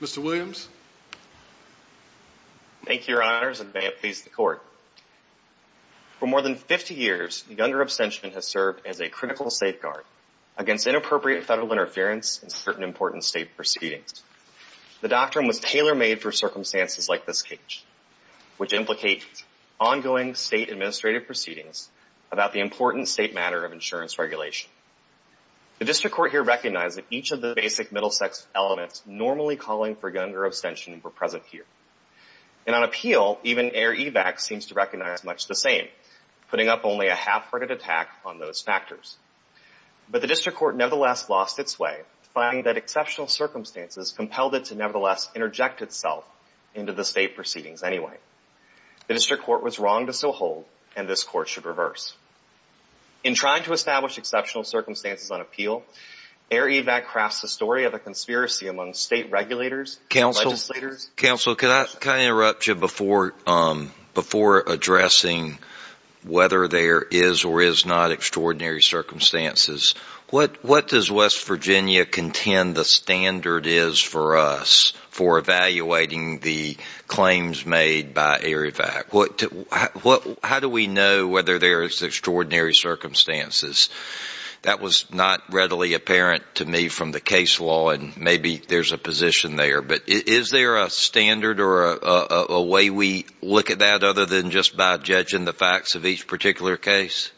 Mr. Williams. Thank you, Your Honors, and may it please the Court. For more than 50 years, the Younger abstention has served as a critical safeguard against inappropriate federal interference in certain important state proceedings. The doctrine was tailor-made for circumstances like this case, which implicate ongoing state administrative proceedings about the important state matter of insurance regulation. The District Court here recognized that each of the basic middle-sex elements normally calling for younger abstention were present here. And on appeal, even Air Evac seems to recognize much the same, putting up only a half-hearted attack on those factors. But the District Court nevertheless lost its way, finding that exceptional circumstances compelled it to nevertheless interject itself into the state proceedings anyway. The District Court was wrong to so hold, and this Court should reverse. In trying to establish exceptional circumstances on appeal, Air Evac crafts the story of a conspiracy among state regulators and legislators. Counsel, can I interrupt you before addressing whether there is or is not extraordinary circumstances? What does West Virginia contend the standard is for us for evaluating the claims made by Air Evac? How do we know whether there is extraordinary circumstances? That was not readily apparent to me from the case law, and maybe there's a position there. But is there a standard or a way we look at that other than just by judging the facts of each particular case?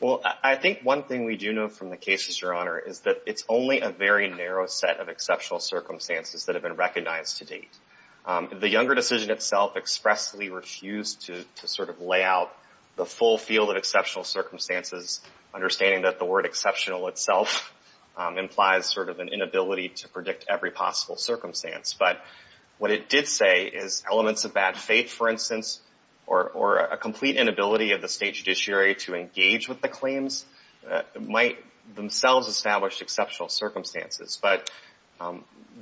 Well, I think one thing we do know from the cases, Your Honor, is that it's only a very narrow set of exceptional circumstances that have been recognized to date. The Younger decision itself expressly refused to sort of lay out the full field of exceptional circumstances, understanding that the word exceptional itself implies sort of an inability to predict every possible circumstance. But what it did say is elements of bad faith, for instance, or a complete inability of the state judiciary to engage with the claims might themselves establish exceptional circumstances. But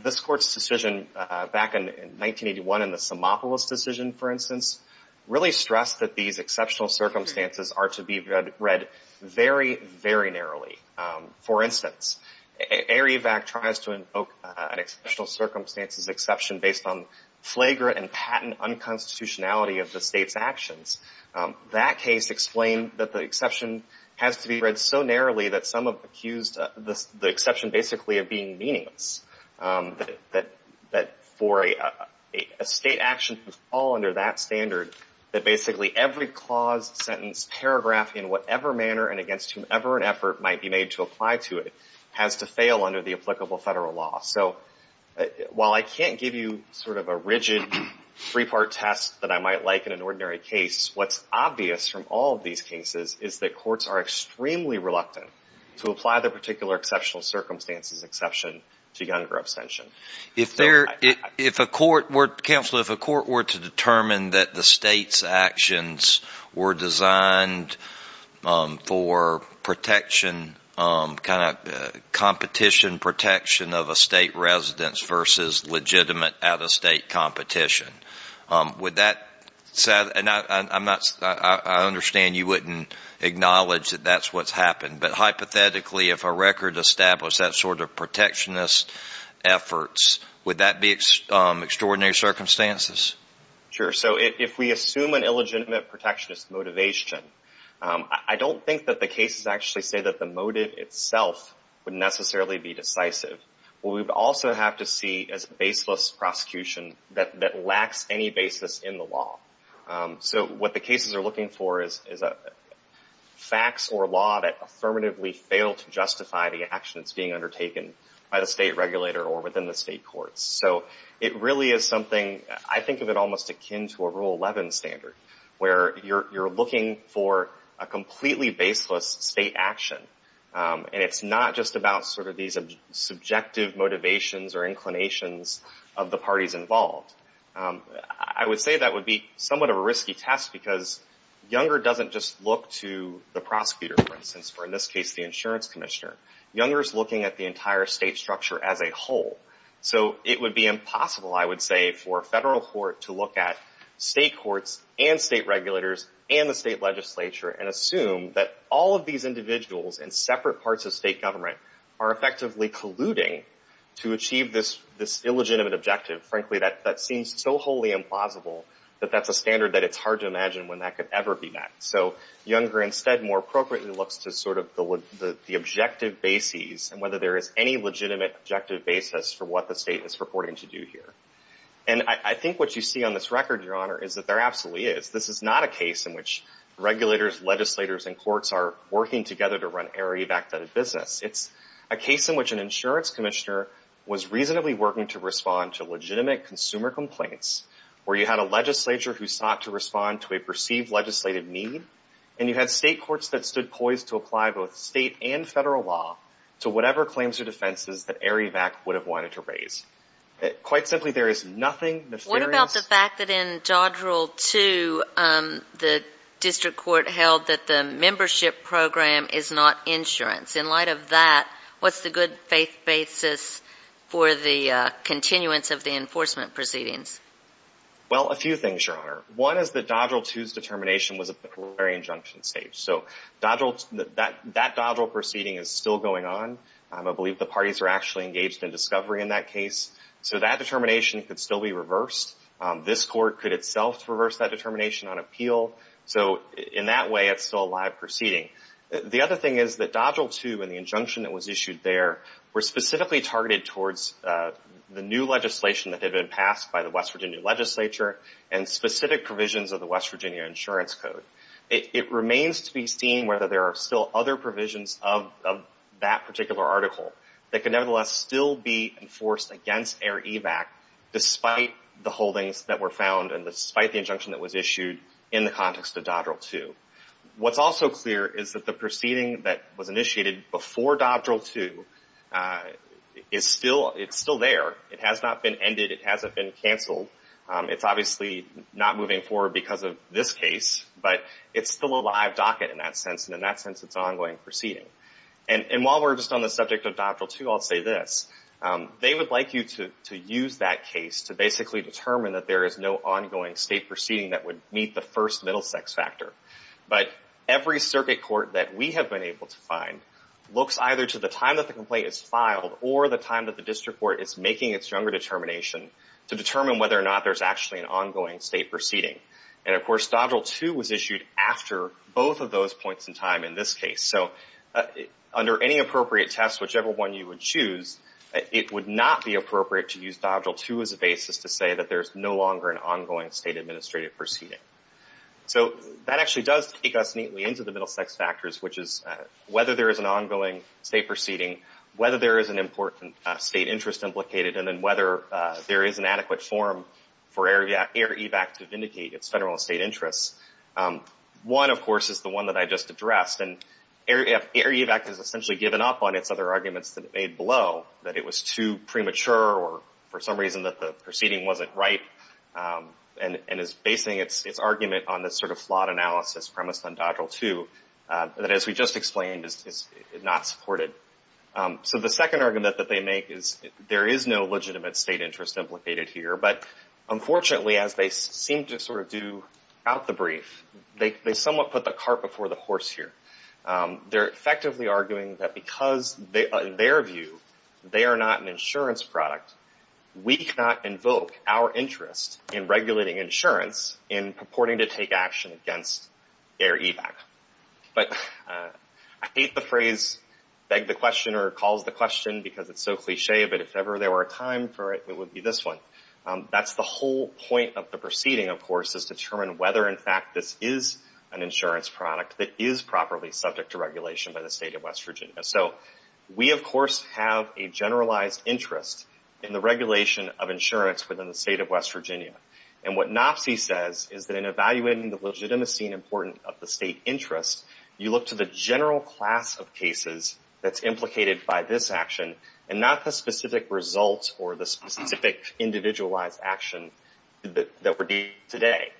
this Court's decision back in 1981 in the Simopoulos decision, for instance, really stressed that these exceptional circumstances are to be read very, very narrowly. For instance, Air Evac tries to invoke an exceptional circumstances exception based on flagrant and patent unconstitutionality of the state's actions. That case explained that the exception has to be read so narrowly that some have accused the exception basically of being meaningless, that for a state action to fall under that standard, that basically every clause, sentence, paragraph in whatever manner and against whomever an effort might be made to apply to it has to fail under the applicable federal law. So while I can't give you sort of a rigid three-part test that I might like in an ordinary case, what's obvious from all of these cases is that courts are extremely reluctant to apply the particular exceptional circumstances exception to gun or abstention. If a court were to determine that the state's actions were designed for protection, kind of competition protection of a state residence versus legitimate out-of-state competition, would that set – and I understand you wouldn't acknowledge that that's what's happened, but hypothetically if a record established that sort of protectionist efforts, would that be extraordinary circumstances? Sure. So if we assume an illegitimate protectionist motivation, I don't think that the cases actually say that the motive itself would necessarily be decisive. What we would also have to see is baseless prosecution that lacks any basis in the law. So what the cases are looking for is facts or law that affirmatively fail to justify the actions being undertaken by the state regulator or within the state courts. So it really is something, I think of it almost akin to a Rule 11 standard, where you're looking for a completely baseless state action, and it's not just about sort of these subjective motivations or inclinations of the parties involved. I would say that would be somewhat of a risky test because Younger doesn't just look to the prosecutor, for instance, or in this case the insurance commissioner. Younger is looking at the entire state structure as a whole. So it would be impossible, I would say, for a federal court to look at state courts and state regulators and the state legislature and assume that all of these individuals in separate parts of state government are effectively colluding to achieve this illegitimate objective. Frankly, that seems so wholly implausible that that's a standard that it's hard to imagine when that could ever be met. So Younger instead more appropriately looks to sort of the objective bases and whether there is any legitimate objective basis for what the state is purporting to do here. And I think what you see on this record, Your Honor, is that there absolutely is. This is not a case in which regulators, legislators, and courts are working together to run arid, It's a case in which an insurance commissioner was reasonably working to respond to legitimate consumer complaints where you had a legislature who sought to respond to a perceived legislated need, and you had state courts that stood poised to apply both state and federal law to whatever claims or defenses that Arivac would have wanted to raise. Quite simply, there is nothing nefarious. What about the fact that in Dodrill 2, the district court held that the membership program is not insurance? In light of that, what's the good faith basis for the continuance of the enforcement proceedings? Well, a few things, Your Honor. One is that Dodrill 2's determination was at the preliminary injunction stage. So that Dodrill proceeding is still going on. I believe the parties are actually engaged in discovery in that case. So that determination could still be reversed. This court could itself reverse that determination on appeal. So in that way, it's still a live proceeding. The other thing is that Dodrill 2 and the injunction that was issued there were specifically targeted towards the new legislation that had been passed by the West Virginia legislature and specific provisions of the West Virginia Insurance Code. It remains to be seen whether there are still other provisions of that particular article that can nevertheless still be enforced against Arivac despite the holdings that were found and despite the injunction that was issued in the context of Dodrill 2. What's also clear is that the proceeding that was initiated before Dodrill 2 is still there. It has not been ended. It hasn't been canceled. It's obviously not moving forward because of this case, but it's still a live docket in that sense. And in that sense, it's an ongoing proceeding. And while we're just on the subject of Dodrill 2, I'll say this. They would like you to use that case to basically determine that there is no ongoing state proceeding that would meet the first middle sex factor. But every circuit court that we have been able to find looks either to the time that the complaint is filed or the time that the district court is making its younger determination to determine whether or not there's actually an ongoing state proceeding. And of course, Dodrill 2 was issued after both of those points in time in this case. So under any appropriate test, whichever one you would choose, it would not be appropriate to use Dodrill 2 as a basis to say that there's no longer an ongoing state administrative proceeding. So that actually does take us neatly into the middle sex factors, which is whether there is an ongoing state proceeding, whether there is an important state interest implicated, and then whether there is an adequate forum for Air Evac to vindicate its federal and state interests. One, of course, is the one that I just addressed. And Air Evac has essentially given up on its other arguments that it made below, that it was too premature or for some reason that the proceeding wasn't right, and is basing its argument on this sort of flawed analysis premised on Dodrill 2 that, as we just explained, is not supported. So the second argument that they make is there is no legitimate state interest implicated here. But unfortunately, as they seem to sort of do out the brief, they somewhat put the cart before the horse here. They're effectively arguing that because, in their view, they are not an insurance product, we cannot invoke our interest in regulating insurance in purporting to take action against Air Evac. But I hate the phrase beg the question or calls the question because it's so cliche, but if ever there were a time for it, it would be this one. That's the whole point of the proceeding, of course, is to determine whether, in fact, this is an insurance product that is properly subject to regulation by the state of West Virginia. So we, of course, have a generalized interest in the regulation of insurance within the state of West Virginia. And what NOPSI says is that in evaluating the legitimacy and importance of the state interest, you look to the general class of cases that's implicated by this action and not the specific results or the specific individualized action that we're dealing with today.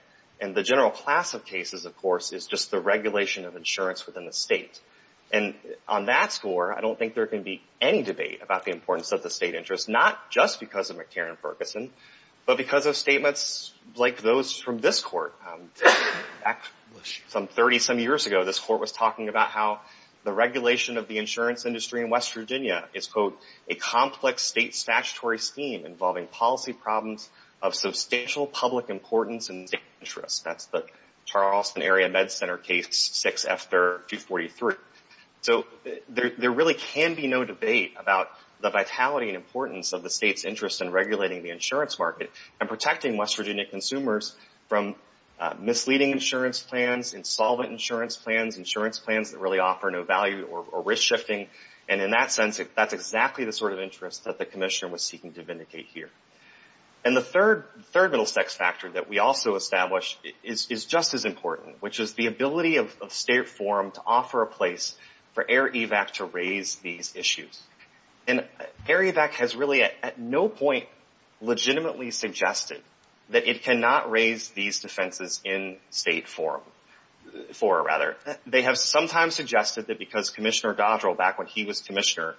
And the general class of cases, of course, is just the regulation of insurance within the state. And on that score, I don't think there can be any debate about the importance of the state interest, not just because of McCarran-Ferguson, but because of statements like those from this court. Back some 30-some years ago, this court was talking about how the regulation of the insurance industry in West Virginia is, quote, a complex state statutory scheme involving policy problems of substantial public importance and interest. That's the Charleston Area Med Center case 6 after 243. So there really can be no debate about the vitality and importance of the state's interest in regulating the insurance market and protecting West Virginia consumers from misleading insurance plans, insolvent insurance plans, insurance plans that really offer no value or risk shifting. And in that sense, that's exactly the sort of interest that the commissioner was seeking to vindicate here. And the third middle sex factor that we also establish is just as important, which is the ability of state forum to offer a place for AIR-EVAC to raise these issues. And AIR-EVAC has really at no point legitimately suggested that it cannot raise these defenses in state forum, forum rather. They have sometimes suggested that because Commissioner Dodrell, back when he was commissioner,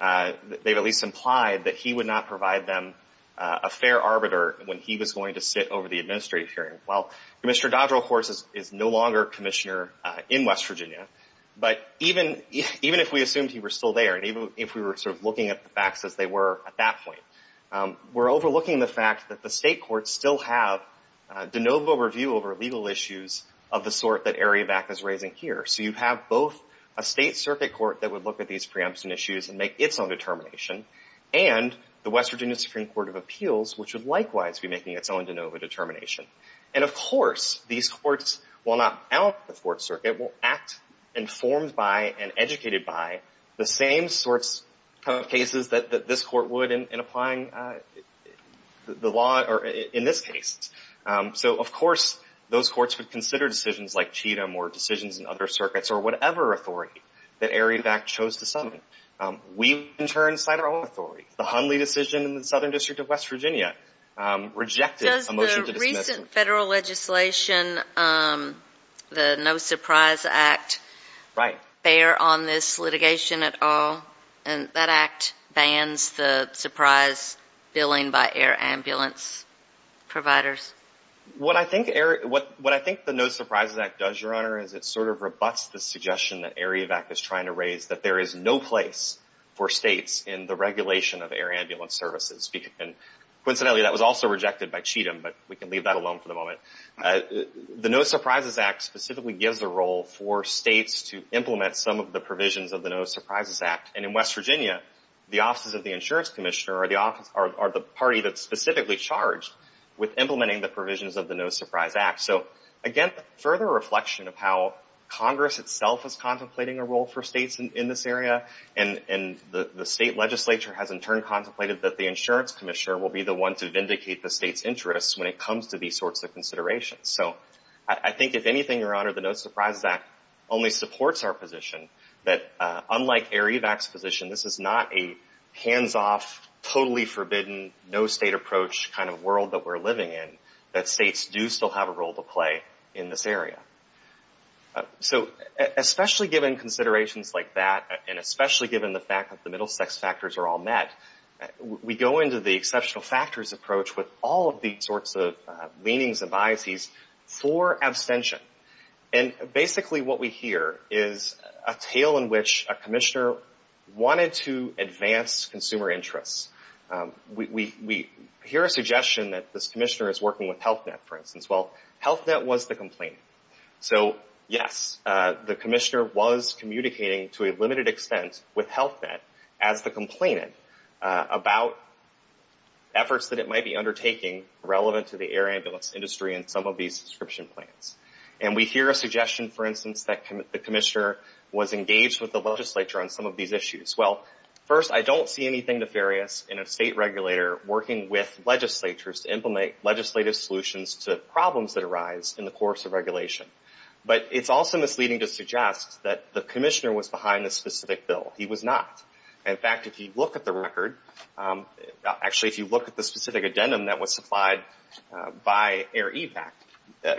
they've at least implied that he would not provide them a fair arbiter when he was going to sit over the administrative hearing. Well, Commissioner Dodrell, of course, is no longer commissioner in West Virginia, but even if we assumed he were still there and even if we were sort of looking at the facts as they were at that point, we're overlooking the fact that the state courts still have de novo review over legal issues of the sort that AIR-EVAC is raising here. So you have both a state circuit court that would look at these preemption issues and make its own determination and the West Virginia Supreme Court of Appeals, which would likewise be making its own de novo determination. And, of course, these courts, while not out of the fourth circuit, will act informed by and educated by the same sorts of cases that this court would in applying the law or in this case. So, of course, those courts would consider decisions like Cheatham or decisions in other circuits or whatever authority that AIR-EVAC chose to summon. We, in turn, cite our own authority. The Hundley decision in the Southern District of West Virginia rejected a motion to dismiss. Does the recent federal legislation, the No Surprise Act, bear on this litigation at all? And that act bans the surprise billing by AIR ambulance providers. What I think the No Surprises Act does, Your Honor, is it sort of rebuts the suggestion that AIR-EVAC is trying to raise that there is no place for states in the regulation of AIR ambulance services. Coincidentally, that was also rejected by Cheatham, but we can leave that alone for the moment. The No Surprises Act specifically gives a role for states to implement some of the provisions of the No Surprises Act. And in West Virginia, the offices of the insurance commissioner are the party that's specifically charged with implementing the provisions of the No Surprises Act. So, again, further reflection of how Congress itself is contemplating a role for states in this area. And the state legislature has, in turn, contemplated that the insurance commissioner will be the one to vindicate the state's interests when it comes to these sorts of considerations. So, I think, if anything, Your Honor, the No Surprises Act only supports our position that, unlike AIR-EVAC's position, this is not a hands-off, totally forbidden, no-state approach kind of world that we're living in, that states do still have a role to play in this area. So, especially given considerations like that, and especially given the fact that the middle-sex factors are all met, we go into the exceptional factors approach with all of these sorts of leanings and biases for abstention. And, basically, what we hear is a tale in which a commissioner wanted to advance consumer interests. We hear a suggestion that this commissioner is working with HealthNet, for instance. Well, HealthNet was the complainant. So, yes, the commissioner was communicating, to a limited extent, with HealthNet, as the complainant, about efforts that it might be undertaking relevant to the air ambulance industry and some of these subscription plans. And we hear a suggestion, for instance, that the commissioner was engaged with the legislature on some of these issues. Well, first, I don't see anything nefarious in a state regulator working with legislatures to implement legislative solutions to problems that arise in the course of regulation. But it's also misleading to suggest that the commissioner was behind this specific bill. He was not. In fact, if you look at the record, actually, if you look at the specific addendum that was supplied by AIR-EVAC,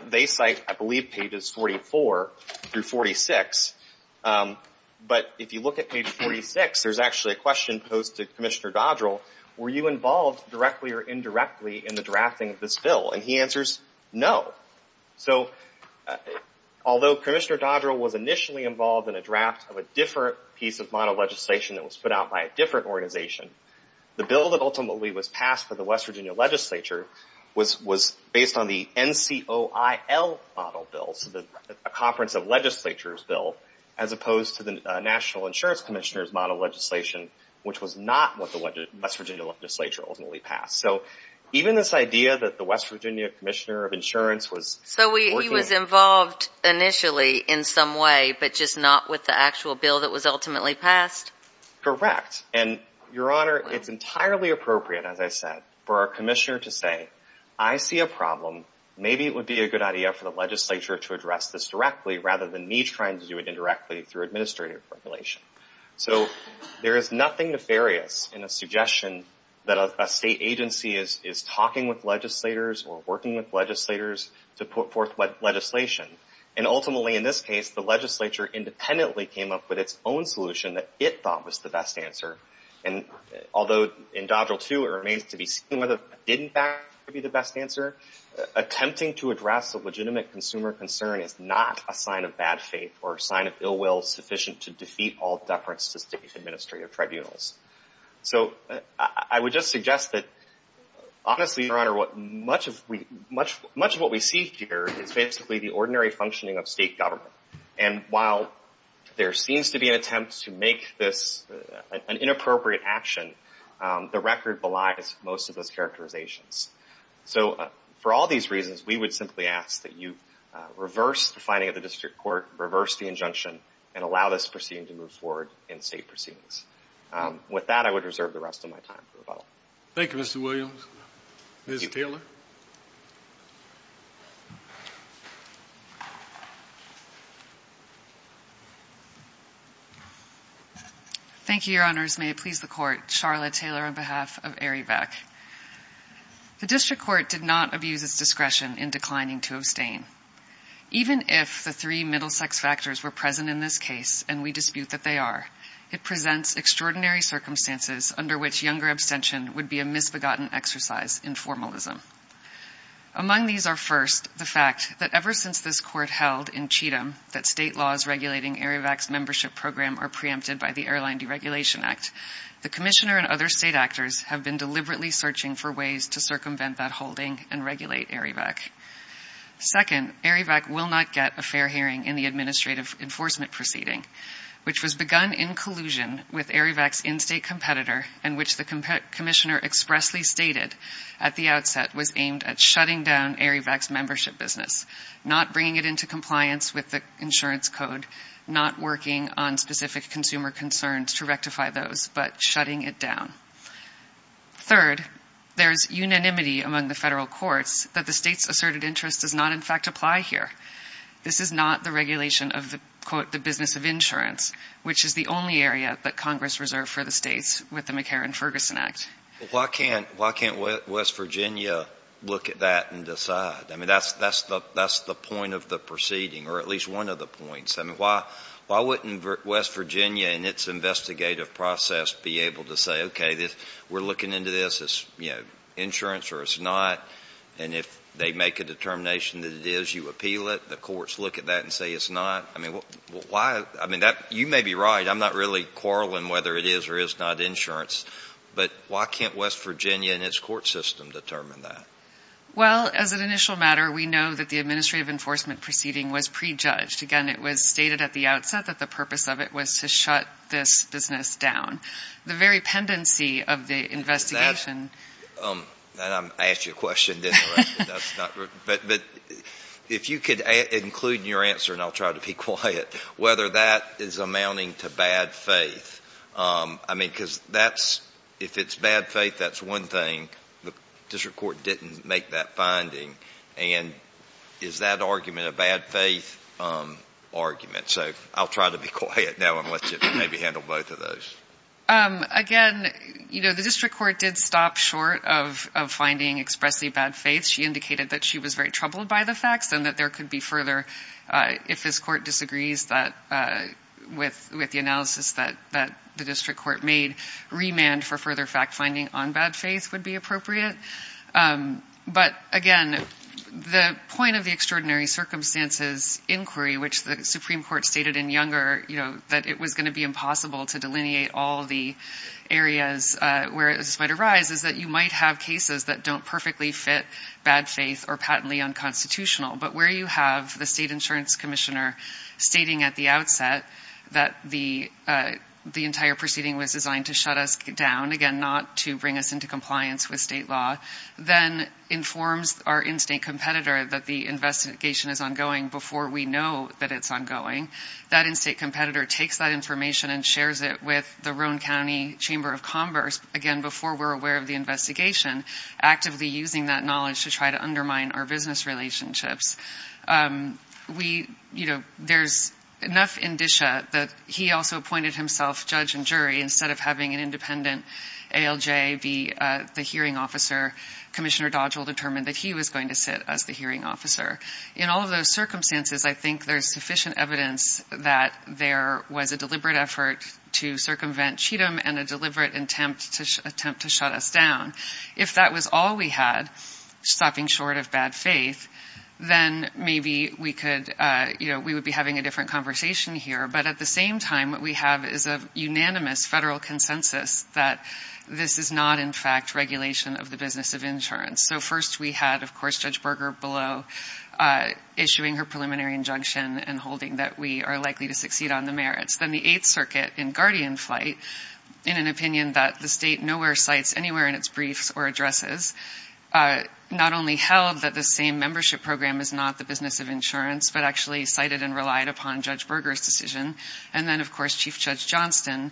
they cite, I believe, pages 44 through 46. But if you look at page 46, there's actually a question posed to Commissioner Dodrell. Were you involved, directly or indirectly, in the drafting of this bill? And he answers, no. So, although Commissioner Dodrell was initially involved in a draft of a different piece of model legislation that was put out by a different organization, the bill that ultimately was passed for the West Virginia Legislature was based on the NCOIL model bill, so a conference of legislatures bill, as opposed to the National Insurance Commissioner's model legislation, which was not what the West Virginia Legislature ultimately passed. So, even this idea that the West Virginia Commissioner of Insurance was working on… So, he was involved, initially, in some way, but just not with the actual bill that was ultimately passed? Correct. And, Your Honor, it's entirely appropriate, as I said, for our commissioner to say, I see a problem. Maybe it would be a good idea for the legislature to address this directly, rather than me trying to do it indirectly through administrative regulation. So, there is nothing nefarious in a suggestion that a state agency is talking with legislators or working with legislators to put forth legislation. And, ultimately, in this case, the legislature independently came up with its own solution that it thought was the best answer. And, although, in Dodrell, too, it remains to be seen whether it didn't, in fact, be the best answer, attempting to address a legitimate consumer concern is not a sign of bad faith or a sign of ill will sufficient to defeat all deference to state administrative tribunals. So, I would just suggest that, honestly, Your Honor, much of what we see here is basically the ordinary functioning of state government. And, while there seems to be an attempt to make this an inappropriate action, the record belies most of those characterizations. So, for all these reasons, we would simply ask that you reverse the finding of the district court, reverse the injunction, and allow this proceeding to move forward in state proceedings. With that, I would reserve the rest of my time for rebuttal. Thank you, Mr. Williams. Ms. Taylor? Thank you, Your Honors. May it please the Court, Charlotte Taylor on behalf of Arivec. The district court did not abuse its discretion in declining to abstain. Even if the three middle-sex factors were present in this case, and we dispute that they are, it presents extraordinary circumstances under which younger abstention would be a misbegotten exercise in formalism. Among these are, first, the fact that ever since this Court held in Cheatham that state laws regulating Arivec's membership program are preempted by the Airline Deregulation Act, the Commissioner and other state actors have been deliberately searching for ways to circumvent that holding and regulate Arivec. Second, Arivec will not get a fair hearing in the administrative enforcement proceeding, which was begun in collusion with Arivec's in-state competitor and which the Commissioner expressly stated at the outset was aimed at shutting down Arivec's membership business, not bringing it into compliance with the insurance code, not working on specific consumer concerns to rectify those, but shutting it down. Third, there is unanimity among the federal courts that the state's asserted interest does not, in fact, apply here. This is not the regulation of the, quote, the business of insurance, which is the only area that Congress reserved for the states with the McCarran-Ferguson Act. Why can't West Virginia look at that and decide? I mean, that's the point of the proceeding, or at least one of the points. I mean, why wouldn't West Virginia in its investigative process be able to say, okay, we're looking into this, it's insurance or it's not, and if they make a determination that it is, you appeal it, the courts look at that and say it's not? I mean, you may be right, I'm not really quarreling whether it is or is not insurance, but why can't West Virginia and its court system determine that? Well, as an initial matter, we know that the administrative enforcement proceeding was prejudged. Again, it was stated at the outset that the purpose of it was to shut this business down. The very pendency of the investigation. I asked you a question, didn't I? But if you could include in your answer, and I'll try to be quiet, whether that is amounting to bad faith. I mean, because that's, if it's bad faith, that's one thing. The district court didn't make that finding. And is that argument a bad faith argument? So I'll try to be quiet now and let you maybe handle both of those. Again, you know, the district court did stop short of finding expressly bad faith. She indicated that she was very troubled by the facts and that there could be further, if this court disagrees with the analysis that the district court made, remand for further fact finding on bad faith would be appropriate. But, again, the point of the extraordinary circumstances inquiry, which the Supreme Court stated in Younger, you know, that it was going to be impossible to delineate all the areas where this might arise, is that you might have cases that don't perfectly fit bad faith or patently unconstitutional. But where you have the state insurance commissioner stating at the outset that the entire proceeding was designed to shut us down, again, not to bring us into compliance with state law, then informs our in-state competitor that the investigation is ongoing before we know that it's ongoing. That in-state competitor takes that information and shares it with the Rhone County Chamber of Commerce, again, before we're aware of the investigation, actively using that knowledge to try to undermine our business relationships. We, you know, there's enough indicia that he also appointed himself judge and jury. Instead of having an independent ALJ be the hearing officer, Commissioner Dodge will determine that he was going to sit as the hearing officer. In all of those circumstances, I think there's sufficient evidence that there was a deliberate effort to circumvent Cheatham and a deliberate attempt to shut us down. If that was all we had, stopping short of bad faith, then maybe we could, you know, we would be having a different conversation here. But at the same time, what we have is a unanimous federal consensus that this is not, in fact, regulation of the business of insurance. So first we had, of course, Judge Berger below issuing her preliminary injunction and holding that we are likely to succeed on the merits. Then the Eighth Circuit in guardian flight, in an opinion that the state nowhere cites anywhere in its briefs or addresses, not only held that the same membership program is not the business of insurance, but actually cited and relied upon Judge Berger's decision. And then, of course, Chief Judge Johnston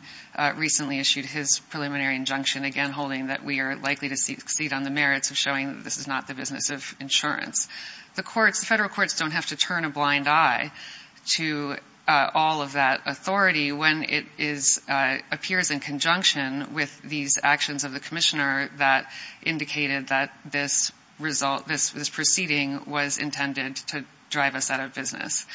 recently issued his preliminary injunction, again, holding that we are likely to succeed on the merits of showing that this is not the business of insurance. The courts, the federal courts don't have to turn a blind eye to all of that authority when it appears in conjunction with these actions of the commissioner that indicated that this result, this proceeding was intended to drive us out of business.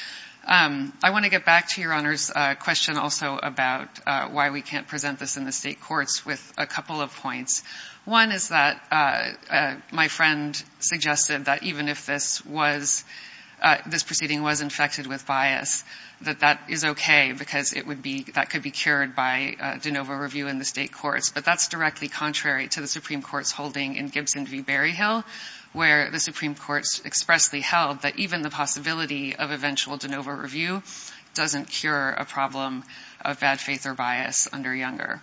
I want to get back to Your Honor's question also about why we can't present this in the state courts with a couple of points. One is that my friend suggested that even if this was, this proceeding was infected with bias, that that is okay because it would be, that could be cured by de novo review in the state courts. But that's directly contrary to the Supreme Court's holding in Gibson v. Berryhill, where the Supreme Court expressly held that even the possibility of eventual de novo review doesn't cure a problem of bad faith or bias under Younger.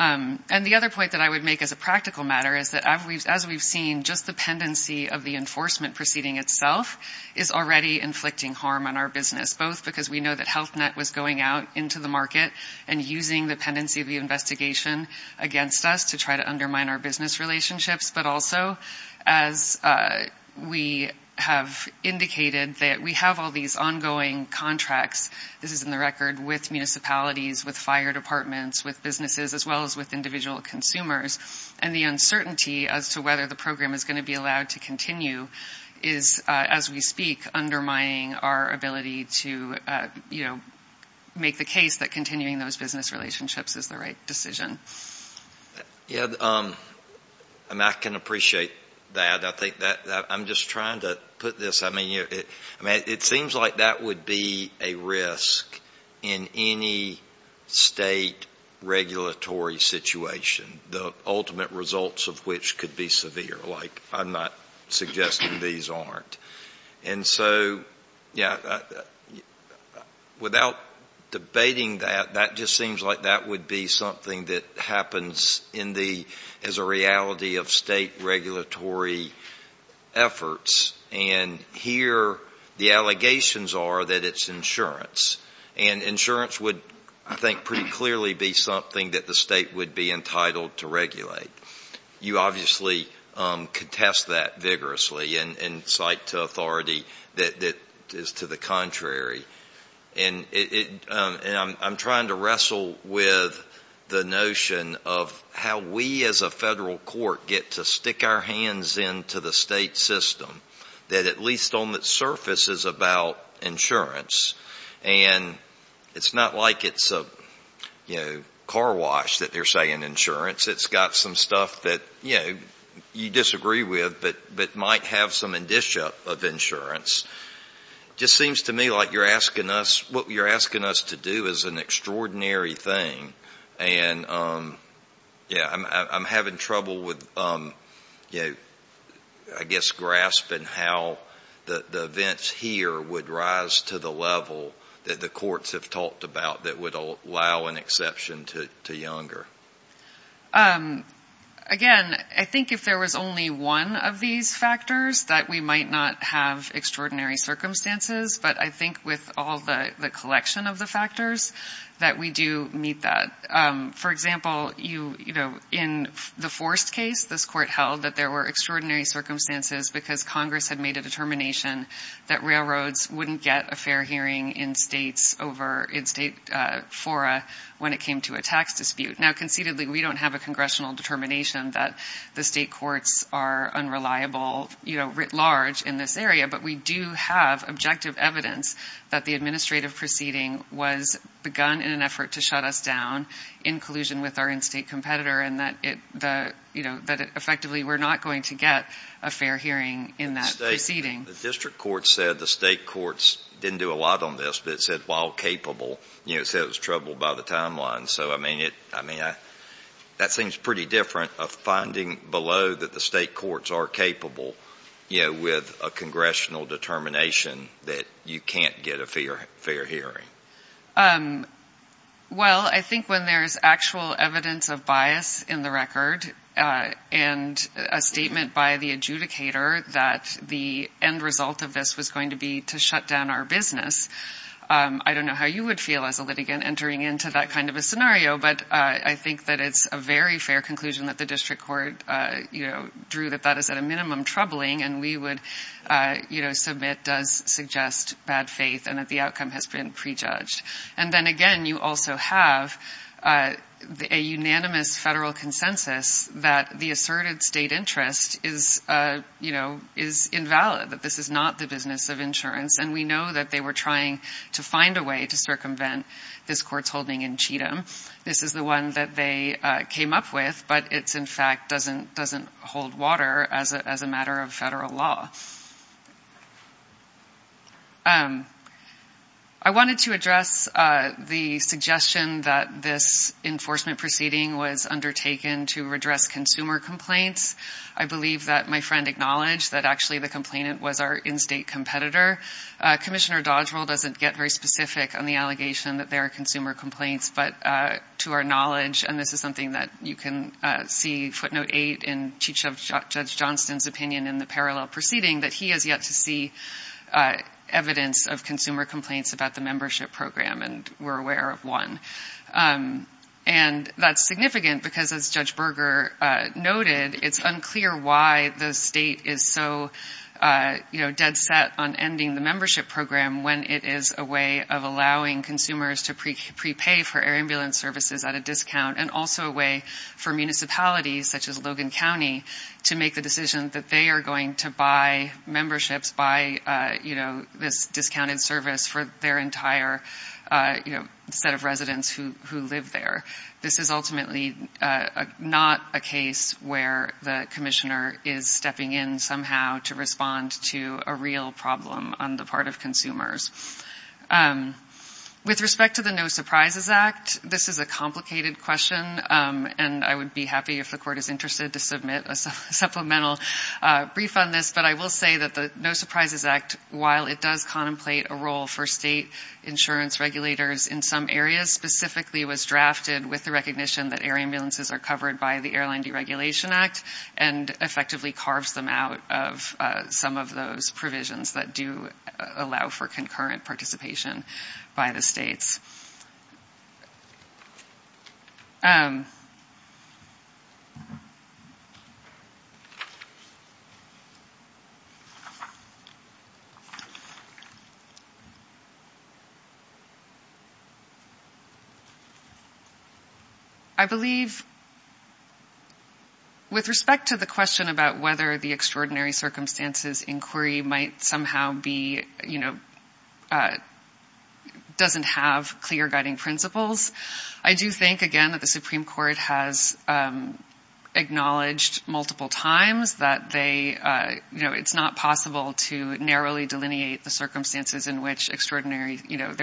And the other point that I would make as a practical matter is that as we've seen, just the pendency of the enforcement proceeding itself is already inflicting harm on our business, both because we know that Health Net was going out into the market and using the pendency of the investigation against us to try to undermine our business relationships, but also as we have indicated that we have all these ongoing contracts. This is in the record with municipalities, with fire departments, with businesses, as well as with individual consumers. And the uncertainty as to whether the program is going to be allowed to continue is, as we speak, undermining our ability to, you know, make the case that continuing those business relationships is the right decision. Yeah, I mean, I can appreciate that. I'm just trying to put this. I mean, it seems like that would be a risk in any state regulatory situation, the ultimate results of which could be severe. Like, I'm not suggesting these aren't. And so, yeah, without debating that, that just seems like that would be something that happens as a reality of state regulatory efforts. And here the allegations are that it's insurance. And insurance would, I think, pretty clearly be something that the state would be entitled to regulate. You obviously contest that vigorously and cite authority that is to the contrary. And I'm trying to wrestle with the notion of how we as a federal court get to stick our hands into the state system that at least on the surface is about insurance. And it's not like it's a, you know, car wash that they're saying insurance. It's got some stuff that, you know, you disagree with but might have some indicia of insurance. It just seems to me like what you're asking us to do is an extraordinary thing. And, yeah, I'm having trouble with, you know, I guess grasping how the events here would rise to the level that the courts have talked about that would allow an exception to Younger. Again, I think if there was only one of these factors that we might not have extraordinary circumstances. But I think with all the collection of the factors that we do meet that. For example, you know, in the Forrest case, this court held that there were extraordinary circumstances because Congress had made a determination that railroads wouldn't get a fair hearing in states over in state fora when it came to a tax dispute. Now, conceitedly, we don't have a congressional determination that the state courts are unreliable, you know, writ large in this area. But we do have objective evidence that the administrative proceeding was begun in an effort to shut us down in collusion with our in-state competitor and that it, you know, that effectively we're not going to get a fair hearing in that proceeding. The district court said the state courts didn't do a lot on this. But it said while capable, you know, it said it was troubled by the timeline. So, I mean, that seems pretty different of finding below that the state courts are capable, you know, with a congressional determination that you can't get a fair hearing. Well, I think when there's actual evidence of bias in the record and a statement by the adjudicator that the end result of this was going to be to shut down our business, I don't know how you would feel as a litigant entering into that kind of a scenario. But I think that it's a very fair conclusion that the district court, you know, drew that that is at a minimum troubling and we would, you know, submit does suggest bad faith and that the outcome has been prejudged. And then, again, you also have a unanimous federal consensus that the asserted state interest is, you know, is invalid, that this is not the business of insurance. And we know that they were trying to find a way to circumvent this court's holding in Cheatham. This is the one that they came up with, but it's in fact doesn't hold water as a matter of federal law. I wanted to address the suggestion that this enforcement proceeding was undertaken to redress consumer complaints. I believe that my friend acknowledged that actually the complainant was our in-state competitor. Commissioner Dodgewell doesn't get very specific on the allegation that there are consumer complaints, but to our knowledge, and this is something that you can see footnote eight in Cheatham, Judge Johnston's opinion in the parallel proceeding, that he has yet to see evidence of consumer complaints about the membership program. And we're aware of one. And that's significant because, as Judge Berger noted, it's unclear why the state is so dead set on ending the membership program when it is a way of allowing consumers to prepay for air ambulance services at a discount and also a way for municipalities, such as Logan County, to make the decision that they are going to buy memberships, buy this discounted service for their entire set of residents who live there. This is ultimately not a case where the commissioner is stepping in somehow to respond to a real problem on the part of consumers. With respect to the No Surprises Act, this is a complicated question, and I would be happy if the court is interested to submit a supplemental brief on this. But I will say that the No Surprises Act, while it does contemplate a role for state insurance regulators in some areas, specifically was drafted with the recognition that air ambulances are covered by the Airline Deregulation Act and effectively carves them out of some of those provisions that do allow for concurrent participation by the states. I believe, with respect to the question about whether the Extraordinary Circumstances Inquiry doesn't have clear guiding principles, I do think, again, that the Supreme Court has acknowledged multiple times that it's not possible to narrowly delineate the circumstances in which there are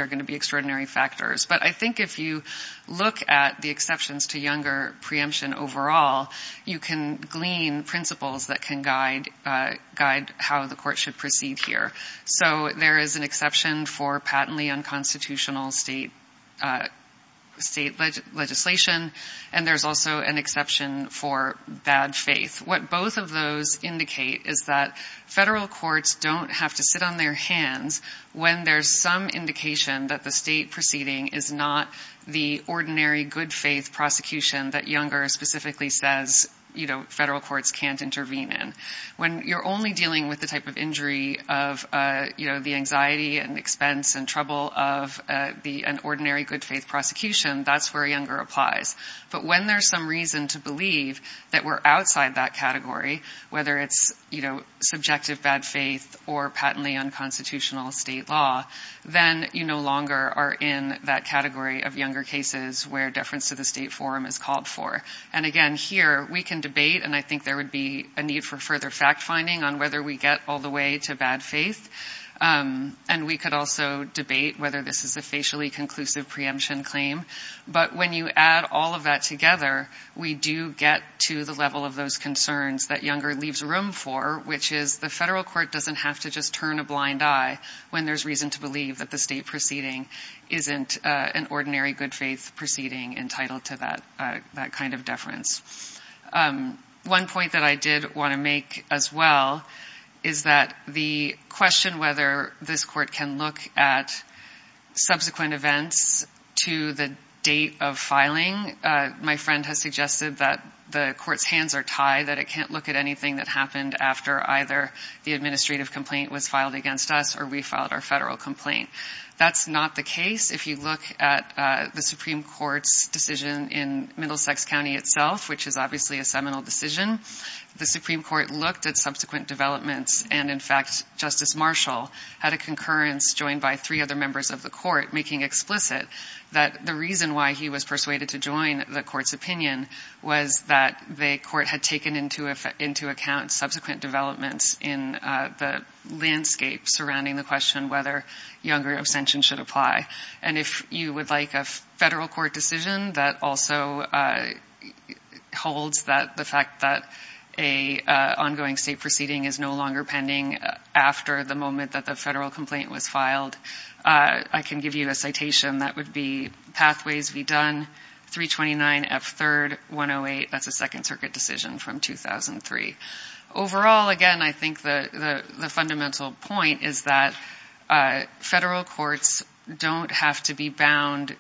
going to be extraordinary factors. But I think if you look at the exceptions to younger preemption overall, you can glean principles that can guide how the court should proceed here. There is an exception for patently unconstitutional state legislation, and there's also an exception for bad faith. What both of those indicate is that federal courts don't have to sit on their hands when there's some indication that the state proceeding is not the ordinary good faith prosecution that Younger specifically says federal courts can't intervene in. When you're only dealing with the type of injury of the anxiety and expense and trouble of an ordinary good faith prosecution, that's where Younger applies. But when there's some reason to believe that we're outside that category, whether it's subjective bad faith or patently unconstitutional state law, then you no longer are in that category of Younger cases where deference to the state forum is called for. And again, here we can debate, and I think there would be a need for further fact-finding on whether we get all the way to bad faith, and we could also debate whether this is a facially conclusive preemption claim. But when you add all of that together, we do get to the level of those concerns that Younger leaves room for, which is the federal court doesn't have to just turn a blind eye when there's reason to believe that the state proceeding isn't an ordinary good faith proceeding entitled to that kind of deference. One point that I did want to make as well is that the question whether this court can look at subsequent events to the date of filing, my friend has suggested that the court's hands are tied, that it can't look at anything that happened after either the administrative complaint was filed against us or we filed our federal complaint. That's not the case. If you look at the Supreme Court's decision in Middlesex County itself, which is obviously a seminal decision, the Supreme Court looked at subsequent developments and, in fact, Justice Marshall had a concurrence joined by three other members of the court making explicit that the reason why he was persuaded to join the court's opinion was that the court had taken into account subsequent developments in the landscape surrounding the question whether Younger abstention should apply. And if you would like a federal court decision that also holds that the fact that an ongoing state proceeding is no longer pending after the moment that the federal complaint was filed, I can give you a citation. That would be Pathways v. Dunn, 329 F. 3rd, 108. That's a Second Circuit decision from 2003. Overall, again, I think the fundamental point is that federal courts don't have to be bound.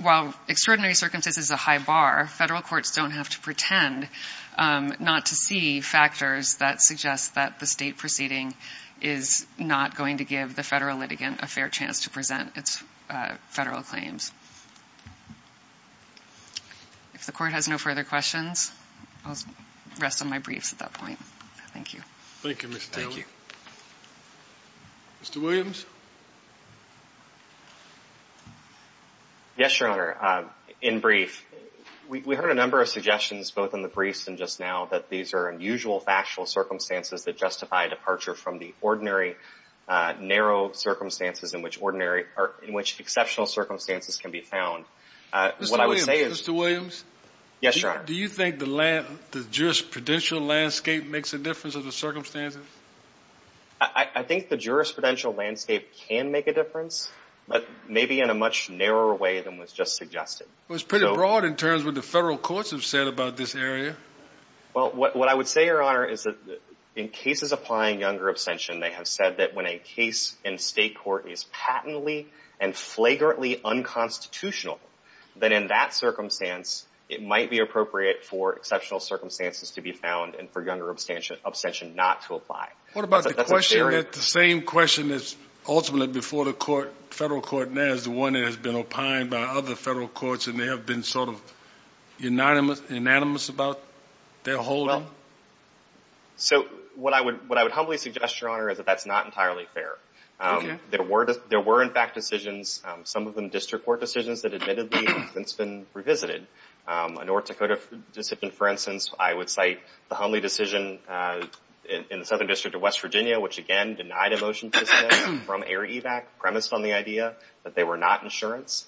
While extraordinary circumstances is a high bar, federal courts don't have to pretend not to see factors that suggest that the state proceeding is not going to give the federal litigant a fair chance to present its federal claims. If the court has no further questions, I'll rest on my briefs at that point. Thank you. Thank you, Ms. Taylor. Thank you. Mr. Williams? Yes, Your Honor. In brief, we heard a number of suggestions, both in the briefs and just now, that these are unusual factual circumstances that justify a departure from the ordinary narrow circumstances in which exceptional circumstances can be found. Mr. Williams? Yes, Your Honor. Do you think the jurisprudential landscape makes a difference in the circumstances? I think the jurisprudential landscape can make a difference, but maybe in a much narrower way than was just suggested. Well, it's pretty broad in terms of what the federal courts have said about this area. Well, what I would say, Your Honor, is that in cases applying younger abstention, they have said that when a case in state court is patently and flagrantly unconstitutional, then in that circumstance, it might be appropriate for exceptional circumstances to be found and for younger abstention not to apply. What about the question that the same question that's ultimately before the federal court now is the one that has been opined by other federal courts and they have been sort of unanimous about their holding? Well, so what I would humbly suggest, Your Honor, is that that's not entirely fair. Okay. There were, in fact, decisions, some of them district court decisions that admittedly have since been revisited. A North Dakota discipline, for instance, I would cite the Hundley decision in the Southern District of West Virginia, which, again, denied a motion to dismiss from air evac premised on the idea that they were not insurance.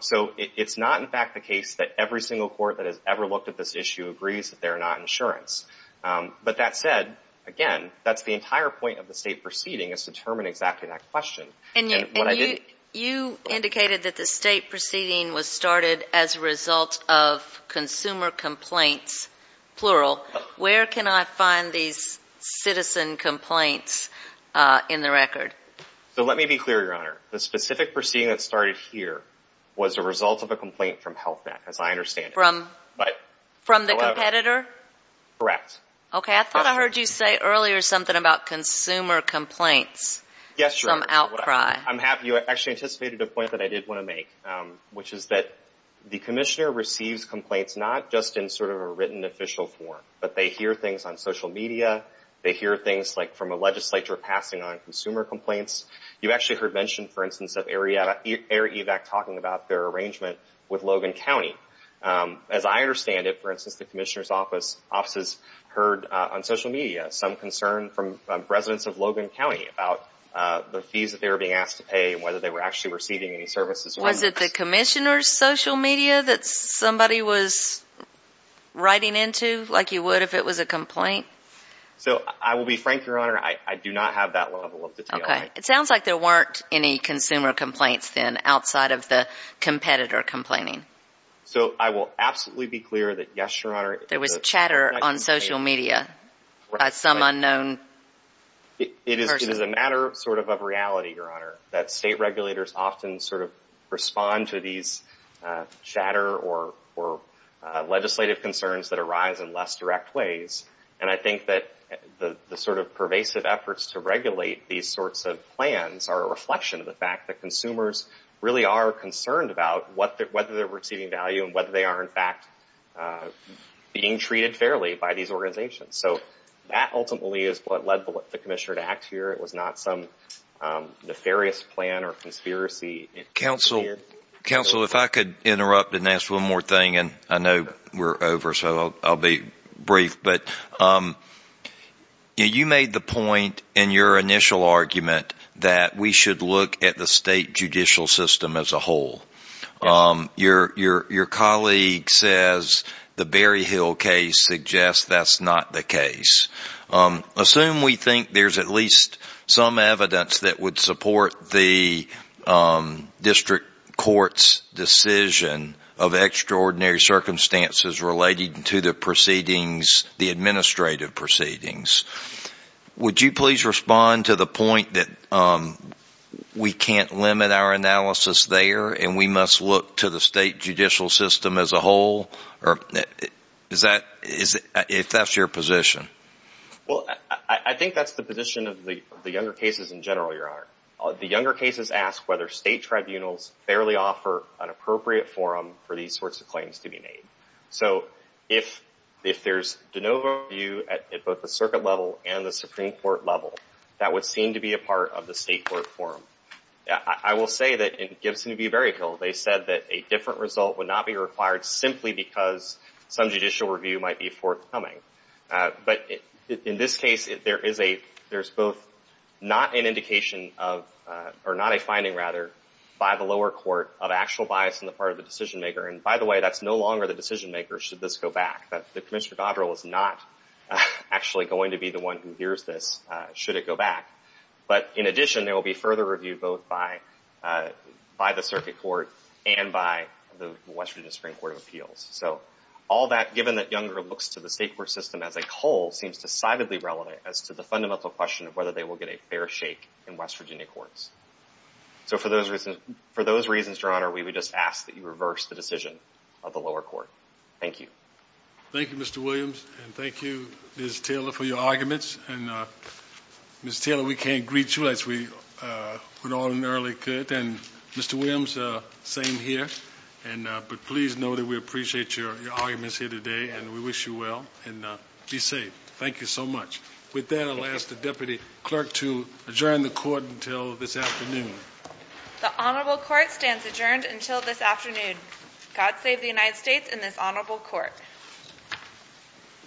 So it's not, in fact, the case that every single court that has ever looked at this issue agrees that they are not insurance. But that said, again, that's the entire point of the state proceeding is to determine exactly that question. And you indicated that the state proceeding was started as a result of consumer complaints, plural. Where can I find these citizen complaints in the record? So let me be clear, Your Honor. The specific proceeding that started here was a result of a complaint from Health Net, as I understand it. From the competitor? Correct. Okay. I thought I heard you say earlier something about consumer complaints. Yes, Your Honor. Some outcry. I'm happy. You actually anticipated a point that I did want to make, which is that the commissioner receives complaints not just in sort of a written official form, but they hear things on social media. They hear things, like, from a legislature passing on consumer complaints. You actually heard mention, for instance, of air evac talking about their arrangement with Logan County. As I understand it, for instance, the commissioner's offices heard on social media some concern from residents of Logan County about the fees that they were being asked to pay and whether they were actually receiving any services. Was it the commissioner's social media that somebody was writing into, like you would if it was a complaint? So I will be frank, Your Honor. I do not have that level of detail. Okay. It sounds like there weren't any consumer complaints then outside of the competitor complaining. So I will absolutely be clear that, yes, Your Honor. There was chatter on social media by some unknown person. It is a matter sort of of reality, Your Honor, that state regulators often sort of respond to these chatter or legislative concerns that arise in less direct ways. And I think that the sort of pervasive efforts to regulate these sorts of plans are a reflection of the fact that consumers really are concerned about whether they're receiving value and whether they are, in fact, being treated fairly by these organizations. So that ultimately is what led the commissioner to act here. It was not some nefarious plan or conspiracy. Counsel, if I could interrupt and ask one more thing, and I know we're over, so I'll be brief. But you made the point in your initial argument that we should look at the state judicial system as a whole. Your colleague says the Berryhill case suggests that's not the case. Assume we think there's at least some evidence that would support the district court's decision of extraordinary circumstances related to the administrative proceedings. Would you please respond to the point that we can't limit our analysis there and we must look to the state judicial system as a whole, if that's your position? Well, I think that's the position of the younger cases in general, Your Honor. The younger cases ask whether state tribunals fairly offer an appropriate forum for these sorts of claims to be made. So if there's de novo review at both the circuit level and the Supreme Court level, that would seem to be a part of the state court forum. I will say that in Gibson v. Berryhill, they said that a different result would not be required simply because some judicial review might be forthcoming. But in this case, there's both not an indication of, or not a finding rather, by the lower court of actual bias on the part of the decision maker. And by the way, that's no longer the decision maker should this go back. The Commissioner Dodrell is not actually going to be the one who hears this should it go back. But in addition, there will be further review both by the circuit court and by the Western District Court of Appeals. So all that, given that Younger looks to the state court system as a whole, seems decidedly relevant as to the fundamental question of whether they will get a fair shake in West Virginia courts. So for those reasons, Your Honor, we would just ask that you reverse the decision of the lower court. Thank you. Thank you, Mr. Williams, and thank you, Ms. Taylor, for your arguments. And, Ms. Taylor, we can't greet you as we ordinarily could. And, Mr. Williams, same here, but please know that we appreciate your arguments here today, and we wish you well, and be safe. Thank you so much. With that, I'll ask the Deputy Clerk to adjourn the court until this afternoon. The Honorable Court stands adjourned until this afternoon. God save the United States and this Honorable Court.